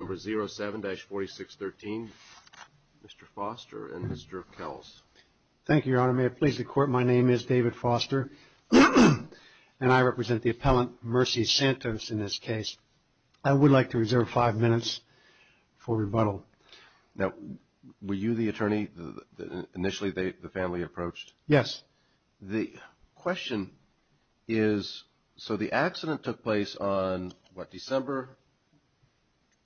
number 07-4613. Mr. Foster and Mr. Kells. Thank you, Your Honor. May it please the court. My name is David Foster, and I represent the appellant Mercy Santos in this case. I would like to reserve five minutes for rebuttal. Now, were you the attorney that initially the family approached? Yes. The question is, so the accident took place on what, December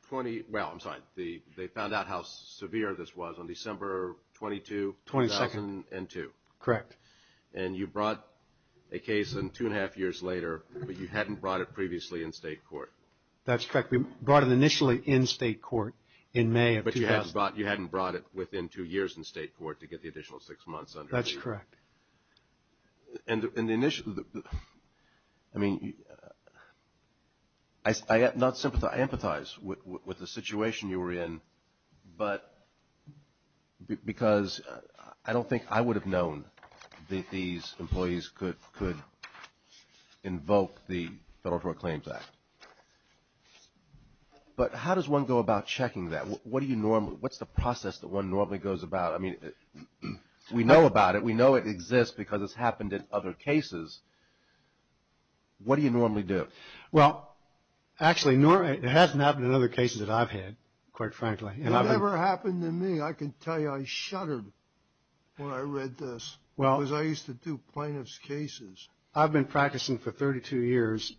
20, well, I'm sorry, they found out how severe this was on December 22, 2002. Correct. And you brought a case in two and a half years later, but you hadn't brought it previously in state court. That's correct. We brought it initially in state court in May of 2002. But you hadn't brought it within two years in state court to get the additional six months under review. That's correct. And in the initial, I mean, I not sympathize, I empathize with the situation you were in, but because I don't think I would have known that these employees could invoke the Federal What do you normally, what's the process that one normally goes about? I mean, we know about it. We know it exists because it's happened in other cases. What do you normally do? Well, actually, it hasn't happened in other cases that I've had, quite frankly. It never happened to me. I can tell you I shuddered when I read this because I used to do plaintiff's cases. I've been practicing for 32 years,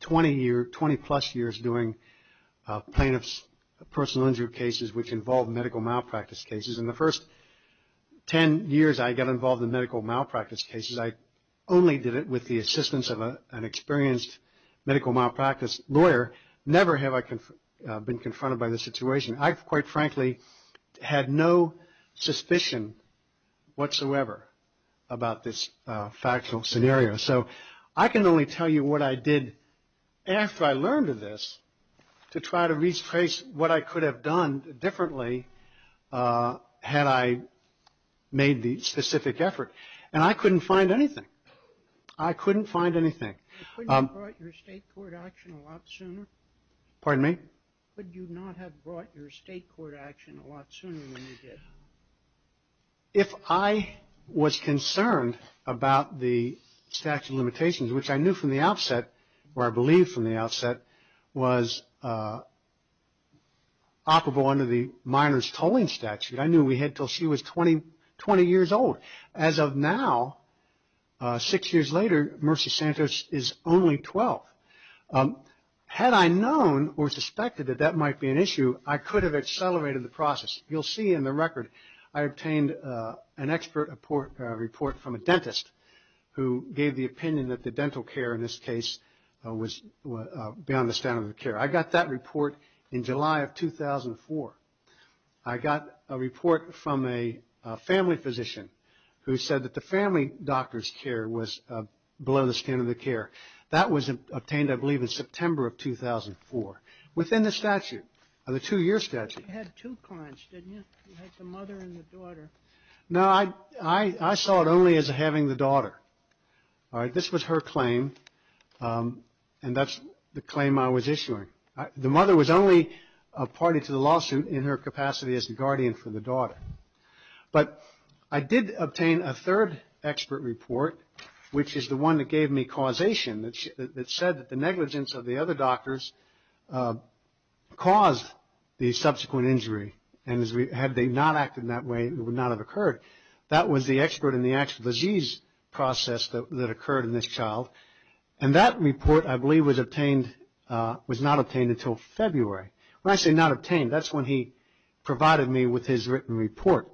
20 plus years doing plaintiff's personal injury cases, which involved medical malpractice cases. In the first 10 years I got involved in medical malpractice cases, I only did it with the assistance of an experienced medical malpractice lawyer. Never have I been confronted by this situation. I, quite frankly, had no suspicion whatsoever about this factual scenario. So I can only tell you what I did after I learned of this to try to retrace what I could have done differently had I made the specific effort. And I couldn't find anything. I couldn't find anything. If I was concerned about the statute of limitations, which I knew from the outset, or I believe from the outset, was operable under the minor's tolling statute, I knew we had until she was 20 years old. But as of now, six years later, Mercy Santos is only 12. Had I known or suspected that that might be an issue, I could have accelerated the process. You'll see in the record I obtained an expert report from a dentist who gave the opinion that the dental care in this case was beyond the standard of care. I got that report in July of 2004. I got a report from a family physician who said that the family doctor's care was below the standard of care. That was obtained, I believe, in September of 2004 within the statute, the two-year statute. You had two clients, didn't you? You had the mother and the daughter. No, I saw it only as having the daughter. This was her claim, and that's the claim I was issuing. The mother was only party to the lawsuit in her capacity as the guardian for the daughter. But I did obtain a third expert report, which is the one that gave me causation, that said that the negligence of the other doctors caused the subsequent injury. Had they not acted in that way, it would not have occurred. That was the expert in the actual disease process that occurred in this child, and that report, I believe, was not obtained until February. When I say not obtained, that's when he provided me with his written report.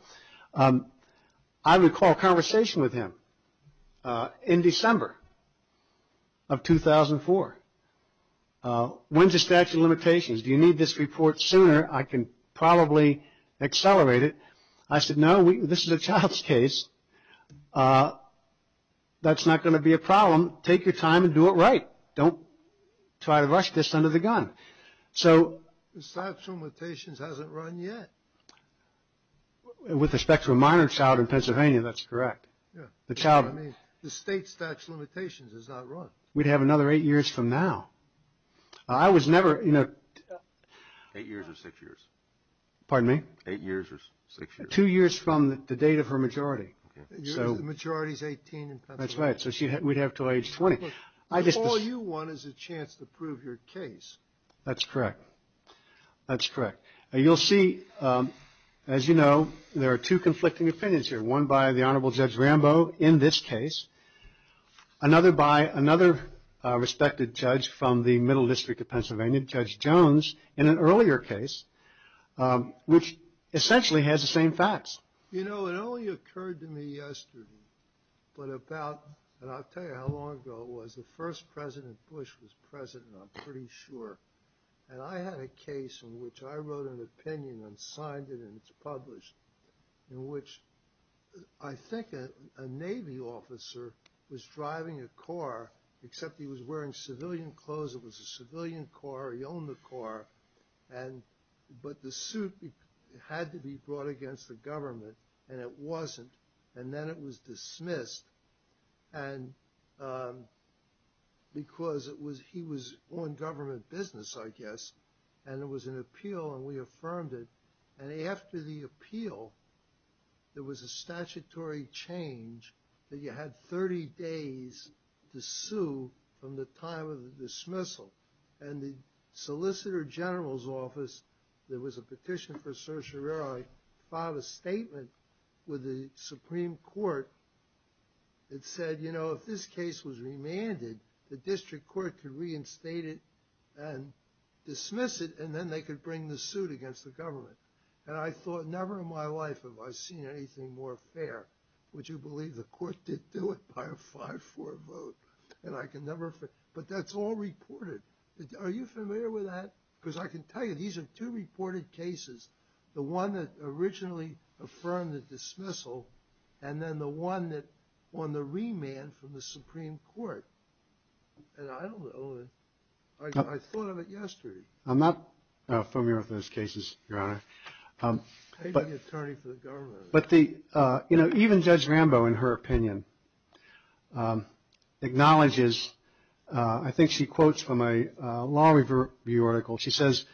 I recall a conversation with him in December of 2004. When's the statute of limitations? Do you need this report sooner? I can probably accelerate it. I said, no, this is a child's case. That's not going to be a problem. Take your time and do it right. Don't try to rush this under the gun. The statute of limitations hasn't run yet. With respect to a minor child in Pennsylvania, that's correct. The state statute of limitations has not run. We'd have another eight years from now. Eight years or six years? Pardon me? Eight years or six years? Two years from the date of her majority. The majority is 18 in Pennsylvania. That's right, so we'd have until age 20. All you want is a chance to prove your case. That's correct. That's correct. You'll see, as you know, there are two conflicting opinions here, one by the Honorable Judge Rambo in this case, another by another respected judge from the Middle District of Pennsylvania, Judge Jones, in an earlier case, which essentially has the same facts. You know, it only occurred to me yesterday, but about, and I'll tell you how long ago it was, the first President Bush was President, I'm pretty sure, and I had a case in which I wrote an opinion and signed it and it's published, in which I think a Navy officer was driving a car, except he was wearing civilian clothes. It was a civilian car, he owned the car, but the suit had to be brought against the government and it wasn't, and then it was dismissed because he was on government business, I guess, and it was an appeal and we affirmed it. And after the appeal, there was a statutory change that you had 30 days to sue from the time of the dismissal and the Solicitor General's office, there was a petition for certiorari, filed a statement with the Supreme Court that said, you know, if this case was remanded, the District Court could reinstate it and dismiss it and then they could bring the suit against the government. And I thought, never in my life have I seen anything more fair. Would you believe the court did do it by a 5-4 vote? And I can never, but that's all reported. Are you familiar with that? Because I can tell you these are two reported cases, the one that originally affirmed the dismissal and then the one that won the remand from the Supreme Court. And I don't know, I thought of it yesterday. I'm not familiar with those cases, Your Honor. Even Judge Rambo, in her opinion, acknowledges, I think she quotes from a Law Review article, she says,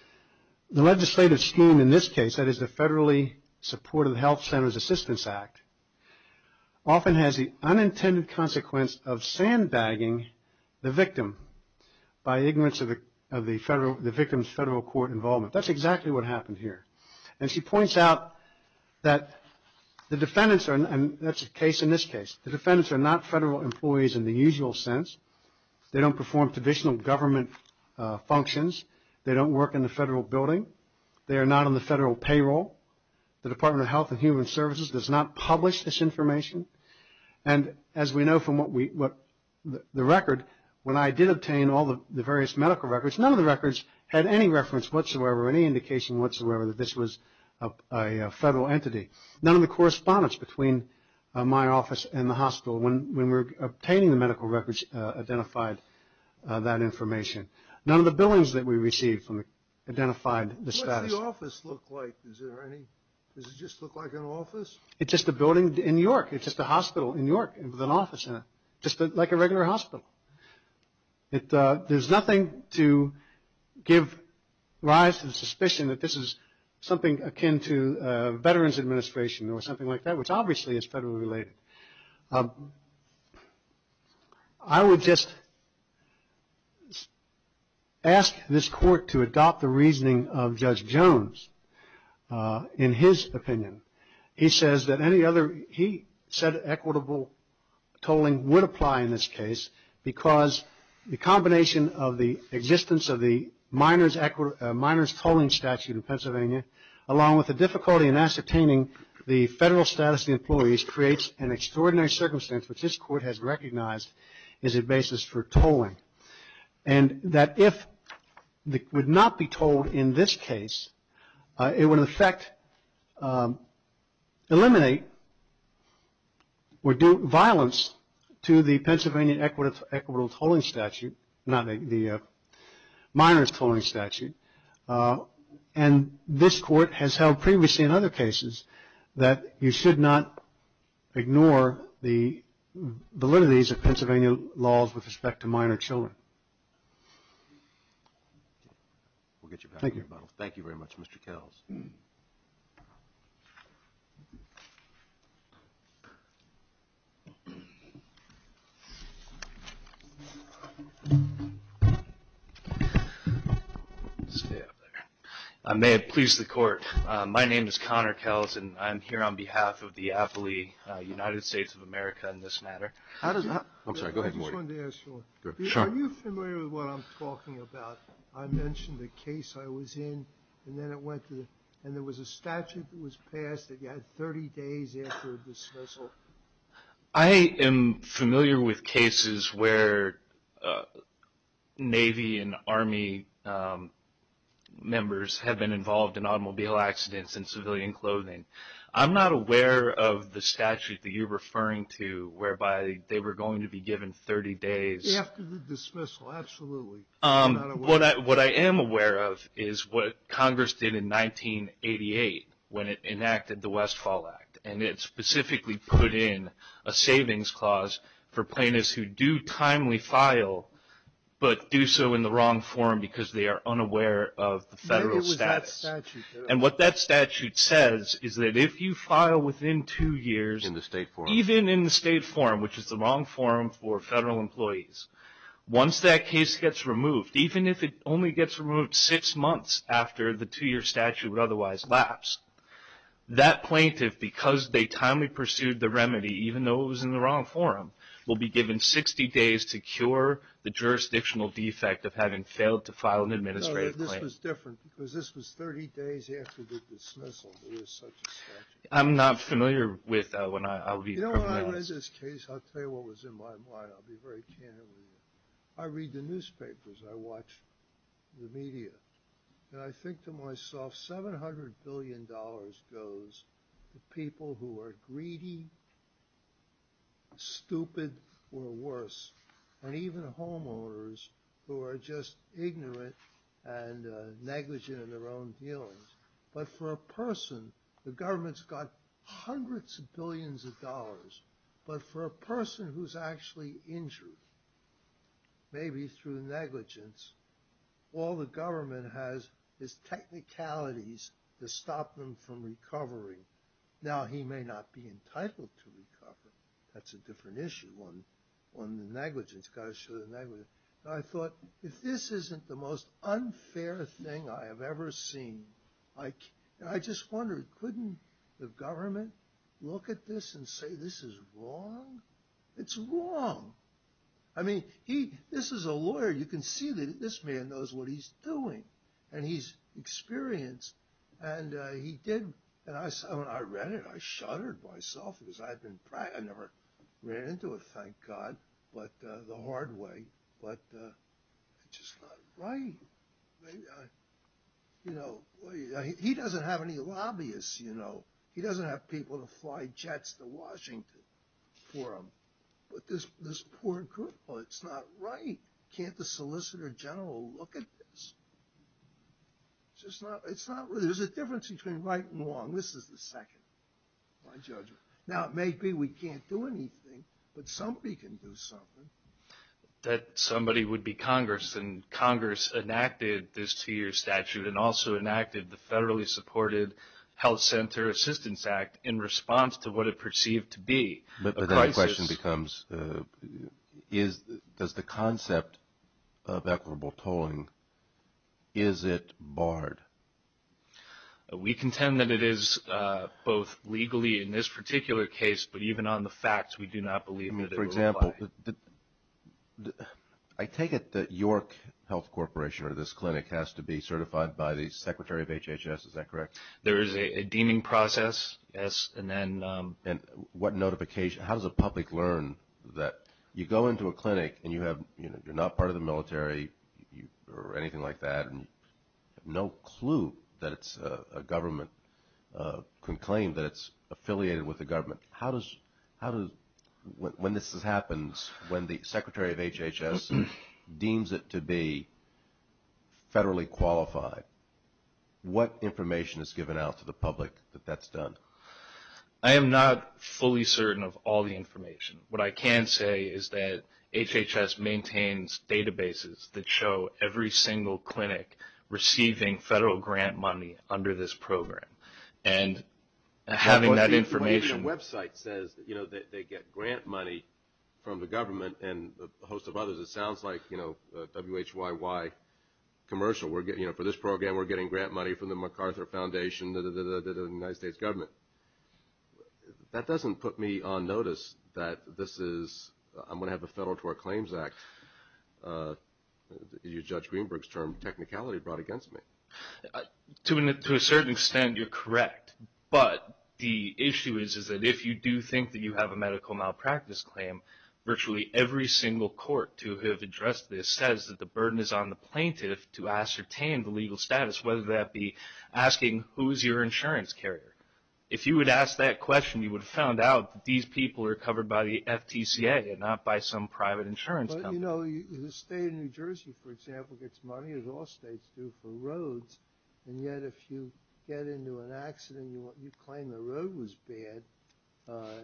the legislative scheme in this case, that is the federally supported Health Centers Assistance Act, often has the unintended consequence of sandbagging the victim by ignorance of the victim's federal court involvement. That's exactly what happened here. And she points out that the defendants are, and that's the case in this case, the defendants are not federal employees in the usual sense. They don't perform traditional government functions. They don't work in the federal building. They are not on the federal payroll. The Department of Health and Human Services does not publish this information. And as we know from the record, when I did obtain all the various medical records, none of the records had any reference whatsoever, any indication whatsoever that this was a federal entity. None of the correspondence between my office and the hospital, when we were obtaining the medical records, identified that information. None of the billings that we received identified the status. What's the office look like? Does it just look like an office? It's just a building in York. It's just a hospital in York with an office in it, just like a regular hospital. There's nothing to give rise to the suspicion that this is something akin to a Veterans Administration or something like that, which obviously is federally related. I would just ask this court to adopt the reasoning of Judge Jones in his opinion. He said equitable tolling would apply in this case because the combination of the existence of the minors tolling statute in Pennsylvania, along with the difficulty in ascertaining the federal status of the employees, creates an extraordinary circumstance which this court has recognized as a basis for tolling. And that if it would not be tolled in this case, it would in effect eliminate or do violence to the Pennsylvania equitable tolling statute, not the minors tolling statute. And this court has held previously in other cases that you should not ignore the validity of Pennsylvania laws with respect to minor children. Thank you very much, Mr. Kells. I may have pleased the court. My name is Connor Kells, and I'm here on behalf of the AFLI, United States of America, in this matter. I just wanted to ask you, are you familiar with what I'm talking about? I mentioned the case I was in, and there was a statute that was passed that you had 30 days after dismissal. I am familiar with cases where Navy and Army members have been involved in automobile accidents and civilian clothing. I'm not aware of the statute that you're referring to, whereby they were going to be given 30 days. After the dismissal, absolutely. What I am aware of is what Congress did in 1988 when it enacted the Westfall Act, and it specifically put in a savings clause for plaintiffs who do timely file, but do so in the wrong form because they are unaware of the federal status. And what that statute says is that if you file within two years, even in the state forum, which is the wrong forum for federal employees, once that case gets removed, even if it only gets removed six months after the two-year statute would otherwise lapse, that plaintiff, because they timely pursued the remedy, even though it was in the wrong forum, will be given 60 days to cure the jurisdictional defect of having failed to file an administrative claim. But this was different because this was 30 days after the dismissal. There is such a statute. I'm not familiar with that one. You know, when I read this case, I'll tell you what was in my mind. I'll be very candid with you. I read the newspapers. I watch the media. And I think to myself, $700 billion goes to people who are greedy, stupid, or worse, and even homeowners who are just ignorant and negligent in their own dealings. But for a person, the government's got hundreds of billions of dollars. But for a person who's actually injured, maybe through negligence, all the government has is technicalities to stop them from recovering. Now, he may not be entitled to recover. That's a different issue on the negligence. You've got to show the negligence. I thought, if this isn't the most unfair thing I have ever seen, I just wondered, couldn't the government look at this and say this is wrong? It's wrong. I mean, this is a lawyer. You can see that this man knows what he's doing. And he's experienced. And he did. And I read it. I shuddered myself. I never ran into it, thank God, the hard way. But it's just not right. He doesn't have any lobbyists. He doesn't have people to fly jets to Washington for him. But this poor group, it's not right. Can't the Solicitor General look at this? There's a difference between right and wrong. This is the second, my judgment. Now, it may be we can't do anything, but somebody can do something. That somebody would be Congress, and Congress enacted this two-year statute and also enacted the federally supported Health Center Assistance Act in response to what it perceived to be a crisis. But then the question becomes, does the concept of equitable tolling, is it barred? We contend that it is, both legally in this particular case, but even on the facts, we do not believe that it will apply. I mean, for example, I take it that York Health Corporation or this clinic has to be certified by the Secretary of HHS, is that correct? There is a deeming process, yes. And what notification, how does the public learn that you go into a clinic and you're not part of the military or anything like that, and you have no clue that it's a government, can claim that it's affiliated with the government. When this happens, when the Secretary of HHS deems it to be federally qualified, what information is given out to the public that that's done? I am not fully certain of all the information. What I can say is that HHS maintains databases that show every single clinic receiving federal grant money under this program. And having that information. Even a website says that they get grant money from the government and a host of others. It sounds like a WHYY commercial. For this program, we're getting grant money from the MacArthur Foundation, the United States government. That doesn't put me on notice that this is, I'm going to have the Federal Toll Claims Act. You judge Greenberg's term, technicality brought against me. To a certain extent, you're correct. But the issue is that if you do think that you have a medical malpractice claim, virtually every single court to have addressed this says that the burden is on the plaintiff to ascertain the legal status, whether that be asking who is your insurance carrier. If you would ask that question, you would have found out that these people are covered by the FTCA and not by some private insurance company. You know, the state of New Jersey, for example, gets money, as all states do, for roads. And yet if you get into an accident and you claim the road was bad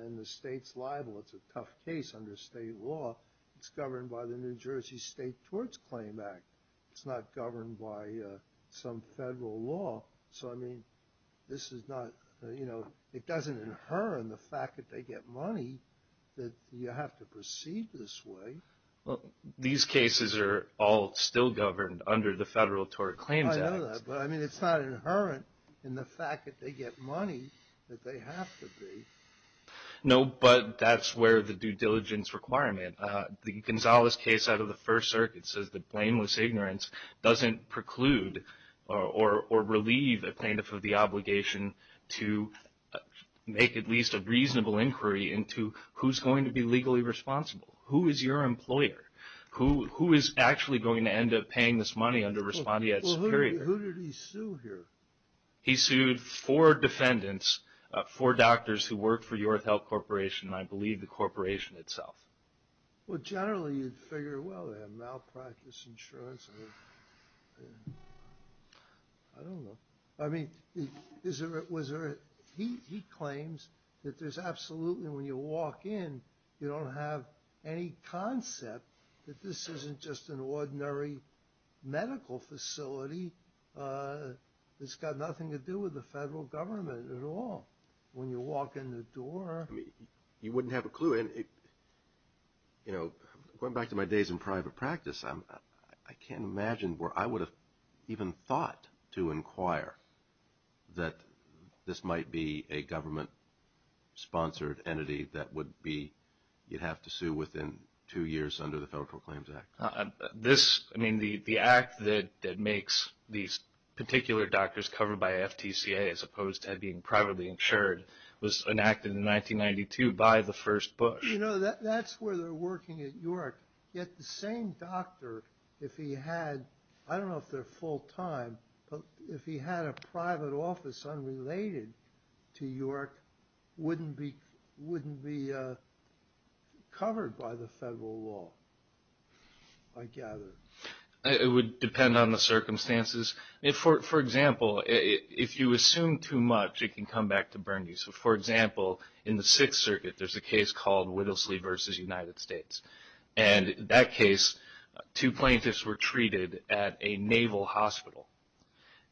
and the state's liable, it's a tough case under state law. It's governed by the New Jersey State Torts Claim Act. It's not governed by some federal law. So, I mean, this is not, you know, it doesn't inherit the fact that they get money that you have to proceed this way. Well, these cases are all still governed under the Federal Tort Claims Act. I know that, but, I mean, it's not inherent in the fact that they get money that they have to be. No, but that's where the due diligence requirement. The Gonzales case out of the First Circuit says that blameless ignorance doesn't preclude or relieve a plaintiff of the obligation to make at least a reasonable inquiry into who's going to be legally responsible. Who is your employer? Who is actually going to end up paying this money under respondeat security? Well, who did he sue here? He sued four defendants, four doctors who worked for York Health Corporation, and I believe the corporation itself. Well, generally you'd figure, well, they have malpractice insurance. I don't know. I mean, he claims that there's absolutely, when you walk in, you don't have any concept that this isn't just an ordinary medical facility. It's got nothing to do with the Federal Government at all. When you walk in the door. I mean, you wouldn't have a clue. Going back to my days in private practice, I can't imagine where I would have even thought to inquire that this might be a government-sponsored entity that would be, you'd have to sue within two years under the Federal Claims Act. I mean, the act that makes these particular doctors covered by FTCA as opposed to being privately insured was enacted in 1992 by the first Bush. You know, that's where they're working at York, yet the same doctor, if he had, I don't know if they're full-time, but if he had a private office unrelated to York, wouldn't be covered by the federal law, I gather. It would depend on the circumstances. For example, if you assume too much, it can come back to burn you. For example, in the Sixth Circuit, there's a case called Wittlesley v. United States. In that case, two plaintiffs were treated at a naval hospital.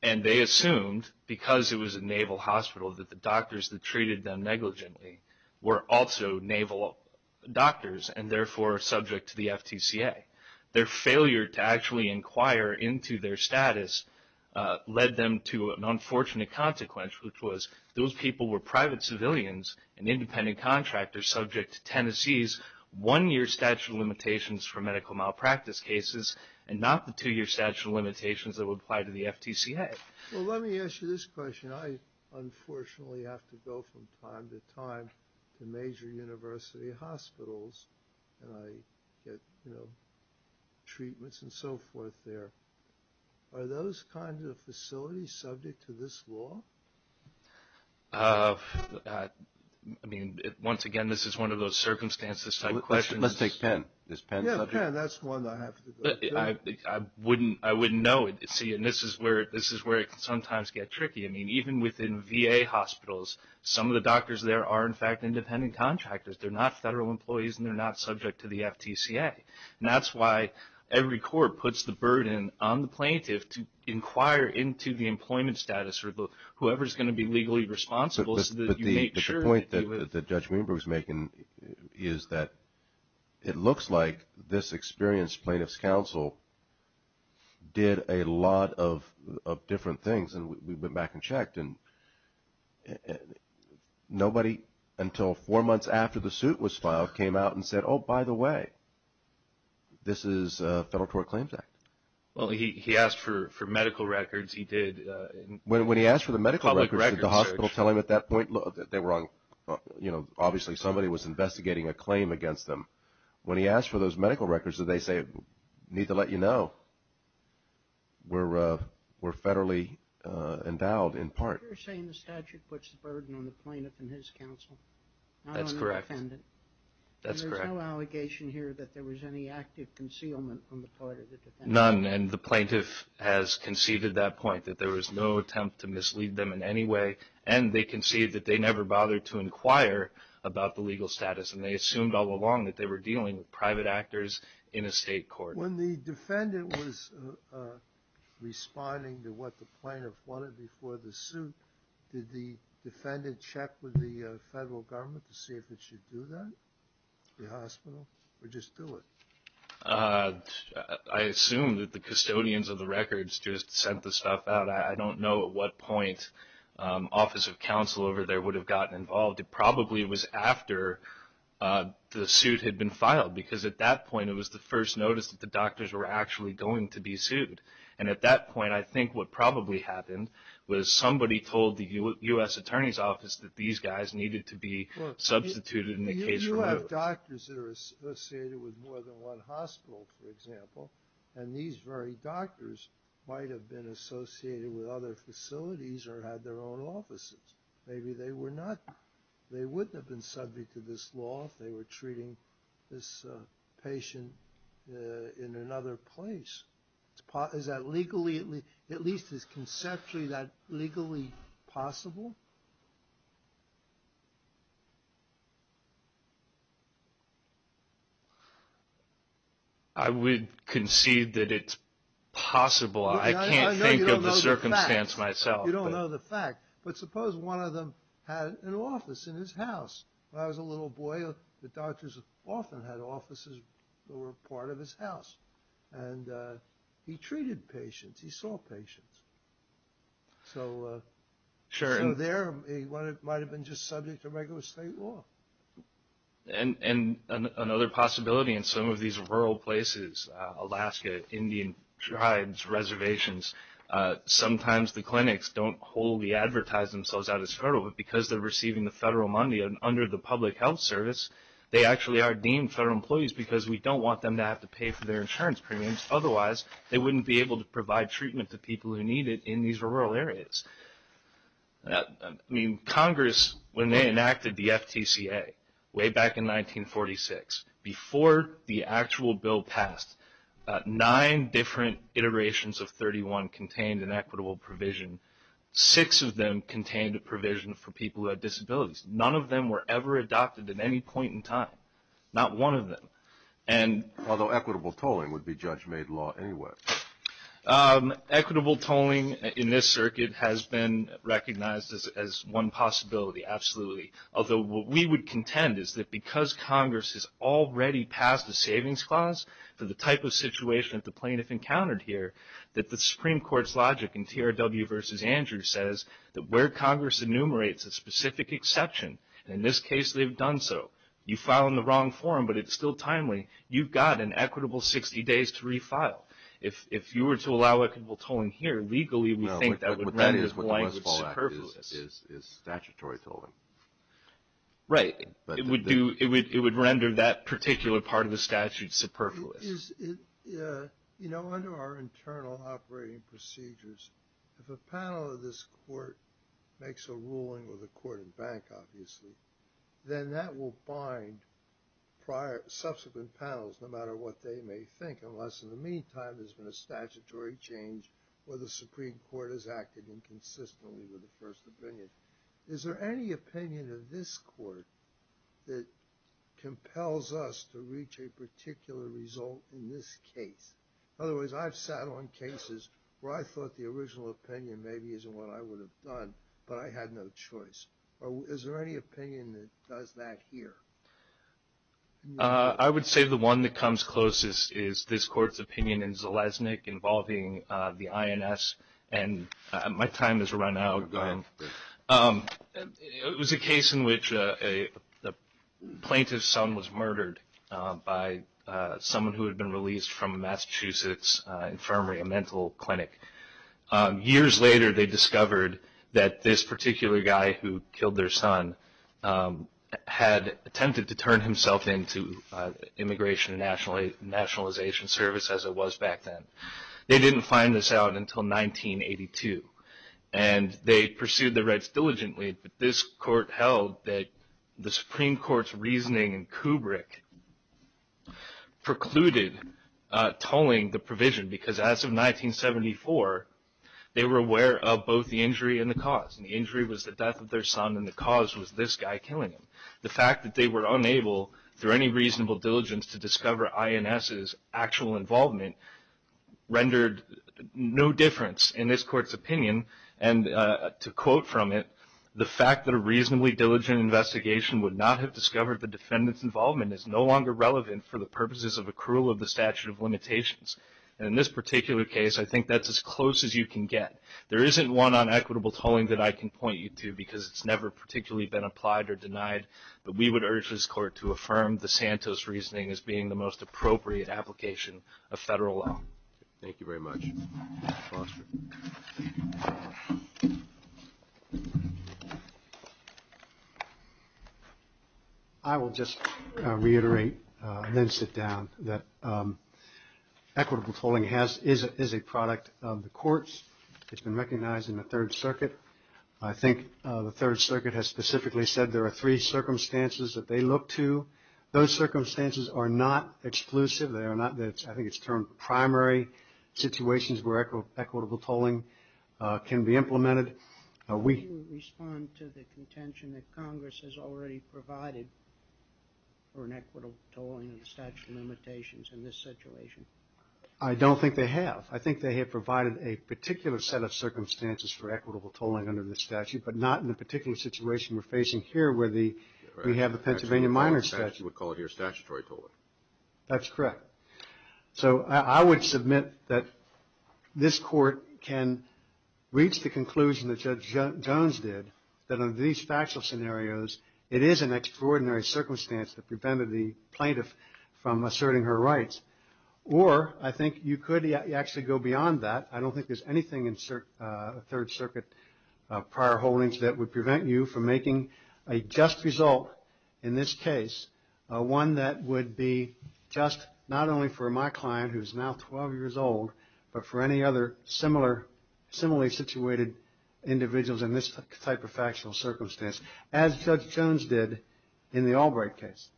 They assumed, because it was a naval hospital, that the doctors that treated them negligently were also naval doctors, and therefore subject to the FTCA. Their failure to actually inquire into their status led them to an unfortunate consequence, which was those people were private civilians and independent contractors subject to Tennessee's one-year statute of limitations for medical malpractice cases and not the two-year statute of limitations that would apply to the FTCA. Well, let me ask you this question. I, unfortunately, have to go from time to time to major university hospitals, and I get, you know, treatments and so forth there. Are those kinds of facilities subject to this law? I mean, once again, this is one of those circumstances-type questions. Let's take Penn. Is Penn subject? Yeah, Penn. That's the one I have to go to. I wouldn't know. See, and this is where it can sometimes get tricky. I mean, even within VA hospitals, some of the doctors there are, in fact, independent contractors. They're not federal employees, and they're not subject to the FTCA. And that's why every court puts the burden on the plaintiff to inquire into the employment status or whoever's going to be legally responsible so that you make sure that you live. But the point that Judge Weinberg is making is that it looks like this experienced plaintiff's counsel did a lot of different things, and we went back and checked, and nobody until four months after the suit was filed came out and said, oh, by the way, this is a Federal Tort Claims Act. Well, he asked for medical records. He did a public records search. When he asked for the medical records, did the hospital tell him at that point that they were on, you know, obviously somebody was investigating a claim against them? When he asked for those medical records, did they say, need to let you know, were federally endowed in part? You're saying the statute puts the burden on the plaintiff and his counsel? That's correct. Not on the defendant? That's correct. There's no allegation here that there was any active concealment on the part of the defendant? None, and the plaintiff has conceived at that point that there was no attempt to mislead them in any way, and they conceived that they never bothered to inquire about the legal status, and they assumed all along that they were dealing with private actors in a state court. When the defendant was responding to what the plaintiff wanted before the suit, did the defendant check with the Federal Government to see if it should do that, the hospital, or just do it? I assume that the custodians of the records just sent the stuff out. I don't know at what point Office of Counsel over there would have gotten involved. It probably was after the suit had been filed because at that point it was the first notice that the doctors were actually going to be sued. And at that point, I think what probably happened was somebody told the U.S. Attorney's Office that these guys needed to be substituted in the case. You have doctors that are associated with more than one hospital, for example, and these very doctors might have been associated with other facilities or had their own offices. Maybe they were not. They wouldn't have been subject to this law if they were treating this patient in another place. Is that legally, at least conceptually, legally possible? I would concede that it's possible. I can't think of the circumstance myself. You don't know the fact. But suppose one of them had an office in his house. When I was a little boy, the doctors often had offices that were part of his house. And he treated patients. He saw patients. So there he might have been just subject to regular state law. And another possibility in some of these rural places, Alaska, Indian tribes, reservations, sometimes the clinics don't wholly advertise themselves out as federal, but because they're receiving the federal money under the public health service, they actually are deemed federal employees because we don't want them to have to pay for their insurance premiums. Otherwise, they wouldn't be able to provide treatment to people who need it in these rural areas. I mean, Congress, when they enacted the FTCA way back in 1946, before the actual bill passed, nine different iterations of 31 contained an equitable provision. Six of them contained a provision for people who had disabilities. None of them were ever adopted at any point in time. Not one of them. Although equitable tolling would be judge-made law anyway. Equitable tolling in this circuit has been recognized as one possibility, absolutely. Although what we would contend is that because Congress has already passed a savings clause for the type of situation that the plaintiff encountered here, that the Supreme Court's logic in TRW v. Andrews says that where Congress enumerates a specific exception, in this case they've done so. You file in the wrong form, but it's still timely. You've got an equitable 60 days to refile. If you were to allow equitable tolling here, legally we think that would render the language superfluous. It's statutory tolling. Right. It would render that particular part of the statute superfluous. You know, under our internal operating procedures, if a panel of this court makes a ruling with a court and bank, obviously, then that will bind subsequent panels no matter what they may think, unless in the meantime there's been a statutory change where the Supreme Court has acted inconsistently with the first opinion. Is there any opinion of this court that compels us to reach a particular result in this case? Otherwise, I've sat on cases where I thought the original opinion maybe isn't what I would have done, but I had no choice. Is there any opinion that does that here? I would say the one that comes closest is this court's opinion in Zeleznik involving the INS. And my time has run out. Go ahead. It was a case in which a plaintiff's son was murdered by someone who had been released from Massachusetts infirmary, a mental clinic. Years later, they discovered that this particular guy who killed their son had attempted to turn himself into Immigration and Nationalization Service, as it was back then. They didn't find this out until 1982. And they pursued the rights diligently, but this court held that the Supreme Court's reasoning in Kubrick precluded tolling the provision, because as of 1974, they were aware of both the injury and the cause. The injury was the death of their son, and the cause was this guy killing him. The fact that they were unable, through any reasonable diligence, to discover INS's actual involvement rendered no difference in this court's opinion. And to quote from it, the fact that a reasonably diligent investigation would not have discovered the defendant's involvement is no longer relevant for the purposes of accrual of the statute of limitations. And in this particular case, I think that's as close as you can get. There isn't one on equitable tolling that I can point you to, because it's never particularly been applied or denied, but we would urge this court to affirm the Santos reasoning as being the most appropriate application of federal law. Thank you very much, Mr. Foster. I will just reiterate, then sit down, that equitable tolling is a product of the courts. It's been recognized in the Third Circuit. I think the Third Circuit has specifically said there are three circumstances that they look to. Those circumstances are not exclusive. I think it's termed primary situations where equitable tolling can be implemented. We respond to the contention that Congress has already provided for an equitable tolling of the statute of limitations in this situation. I don't think they have. I think they have provided a particular set of circumstances for equitable tolling under this statute, but not in the particular situation we're facing here where we have the Pennsylvania minor statute. We call it here statutory tolling. That's correct. So I would submit that this court can reach the conclusion that Judge Jones did, that under these factual scenarios it is an extraordinary circumstance that prevented the plaintiff from asserting her rights. Or I think you could actually go beyond that. I don't think there's anything in Third Circuit prior holdings that would prevent you from making a just result in this case, one that would be just not only for my client who is now 12 years old, but for any other similarly situated individuals in this type of factual circumstance, as Judge Jones did in the Albright case.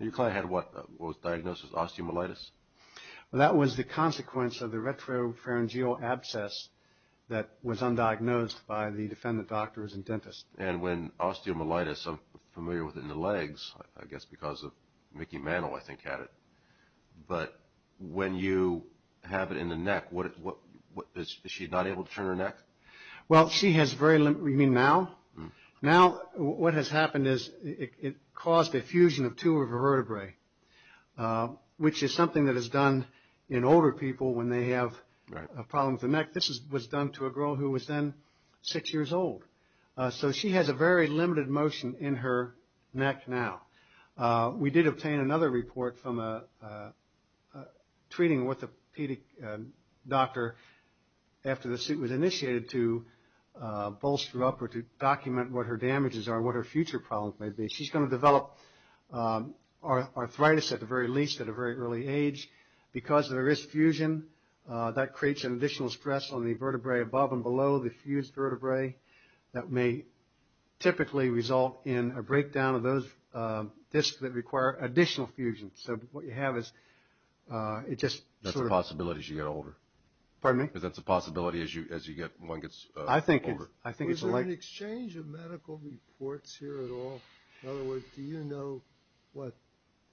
Your client had what was diagnosed as osteomyelitis? That was the consequence of the retropharyngeal abscess that was undiagnosed by the defendant doctors and dentists. And when osteomyelitis, I'm familiar with it in the legs, I guess because of Mickey Mantle, I think, had it. But when you have it in the neck, is she not able to turn her neck? Well, she has very little. You mean now? Now what has happened is it caused a fusion of two of her vertebrae, which is something that is done in older people when they have a problem with the neck. This was done to a girl who was then 6 years old. So she has a very limited motion in her neck now. We did obtain another report from a treating orthopedic doctor after the suit was initiated to bolster up or to document what her damages are and what her future problems may be. She's going to develop arthritis at the very least at a very early age. Because there is fusion, that creates an additional stress on the vertebrae above and below the fused vertebrae. That may typically result in a breakdown of those discs that require additional fusion. So what you have is it just sort of... That's a possibility as you get older. Pardon me? Because that's a possibility as one gets older. I think it's like... Is there an exchange of medical reports here at all? In other words, do you know what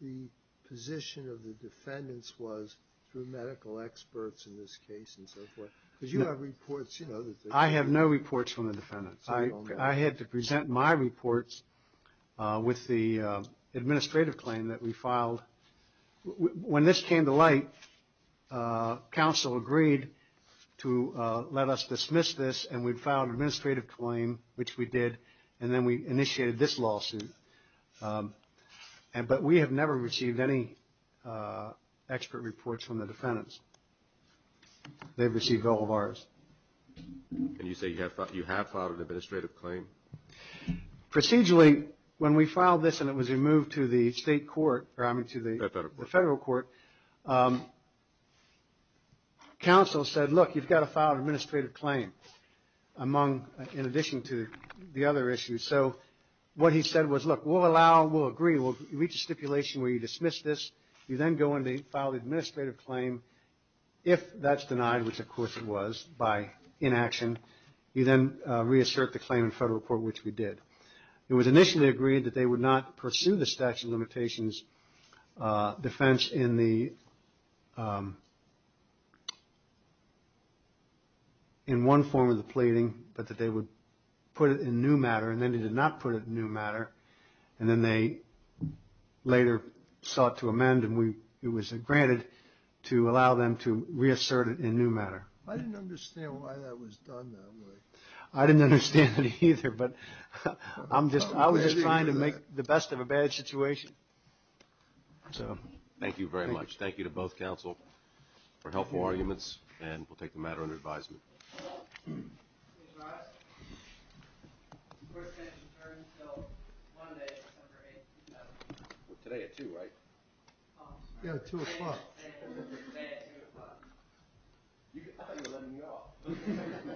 the position of the defendants was through medical experts in this case and so forth? Because you have reports, you know... I have no reports from the defendants. I had to present my reports with the administrative claim that we filed. When this came to light, counsel agreed to let us dismiss this, and we filed an administrative claim, which we did, and then we initiated this lawsuit. But we have never received any expert reports from the defendants. They've received all of ours. And you say you have filed an administrative claim? Procedurally, when we filed this and it was removed to the state court, or I mean to the federal court, counsel said, look, you've got to file an administrative claim in addition to the other issues. So what he said was, look, we'll allow, we'll agree, we'll reach a stipulation where you dismiss this, you then go in to file the administrative claim, if that's denied, which of course it was by inaction, you then reassert the claim in federal court, which we did. It was initially agreed that they would not pursue the statute of limitations defense in one form of the pleading, but that they would put it in new matter, and then they did not put it in new matter, and then they later sought to amend and it was granted to allow them to reassert it in new matter. I didn't understand why that was done that way. I didn't understand it either, but I was just trying to make the best of a bad situation. Thank you very much. Thank you to both counsel for helpful arguments, and we'll take the matter under advisement. Ms. Ross, the court is adjourned until Monday, December 8th. Today at 2, right? Yeah, 2 o'clock. Today at 2 o'clock. I thought you were letting me off.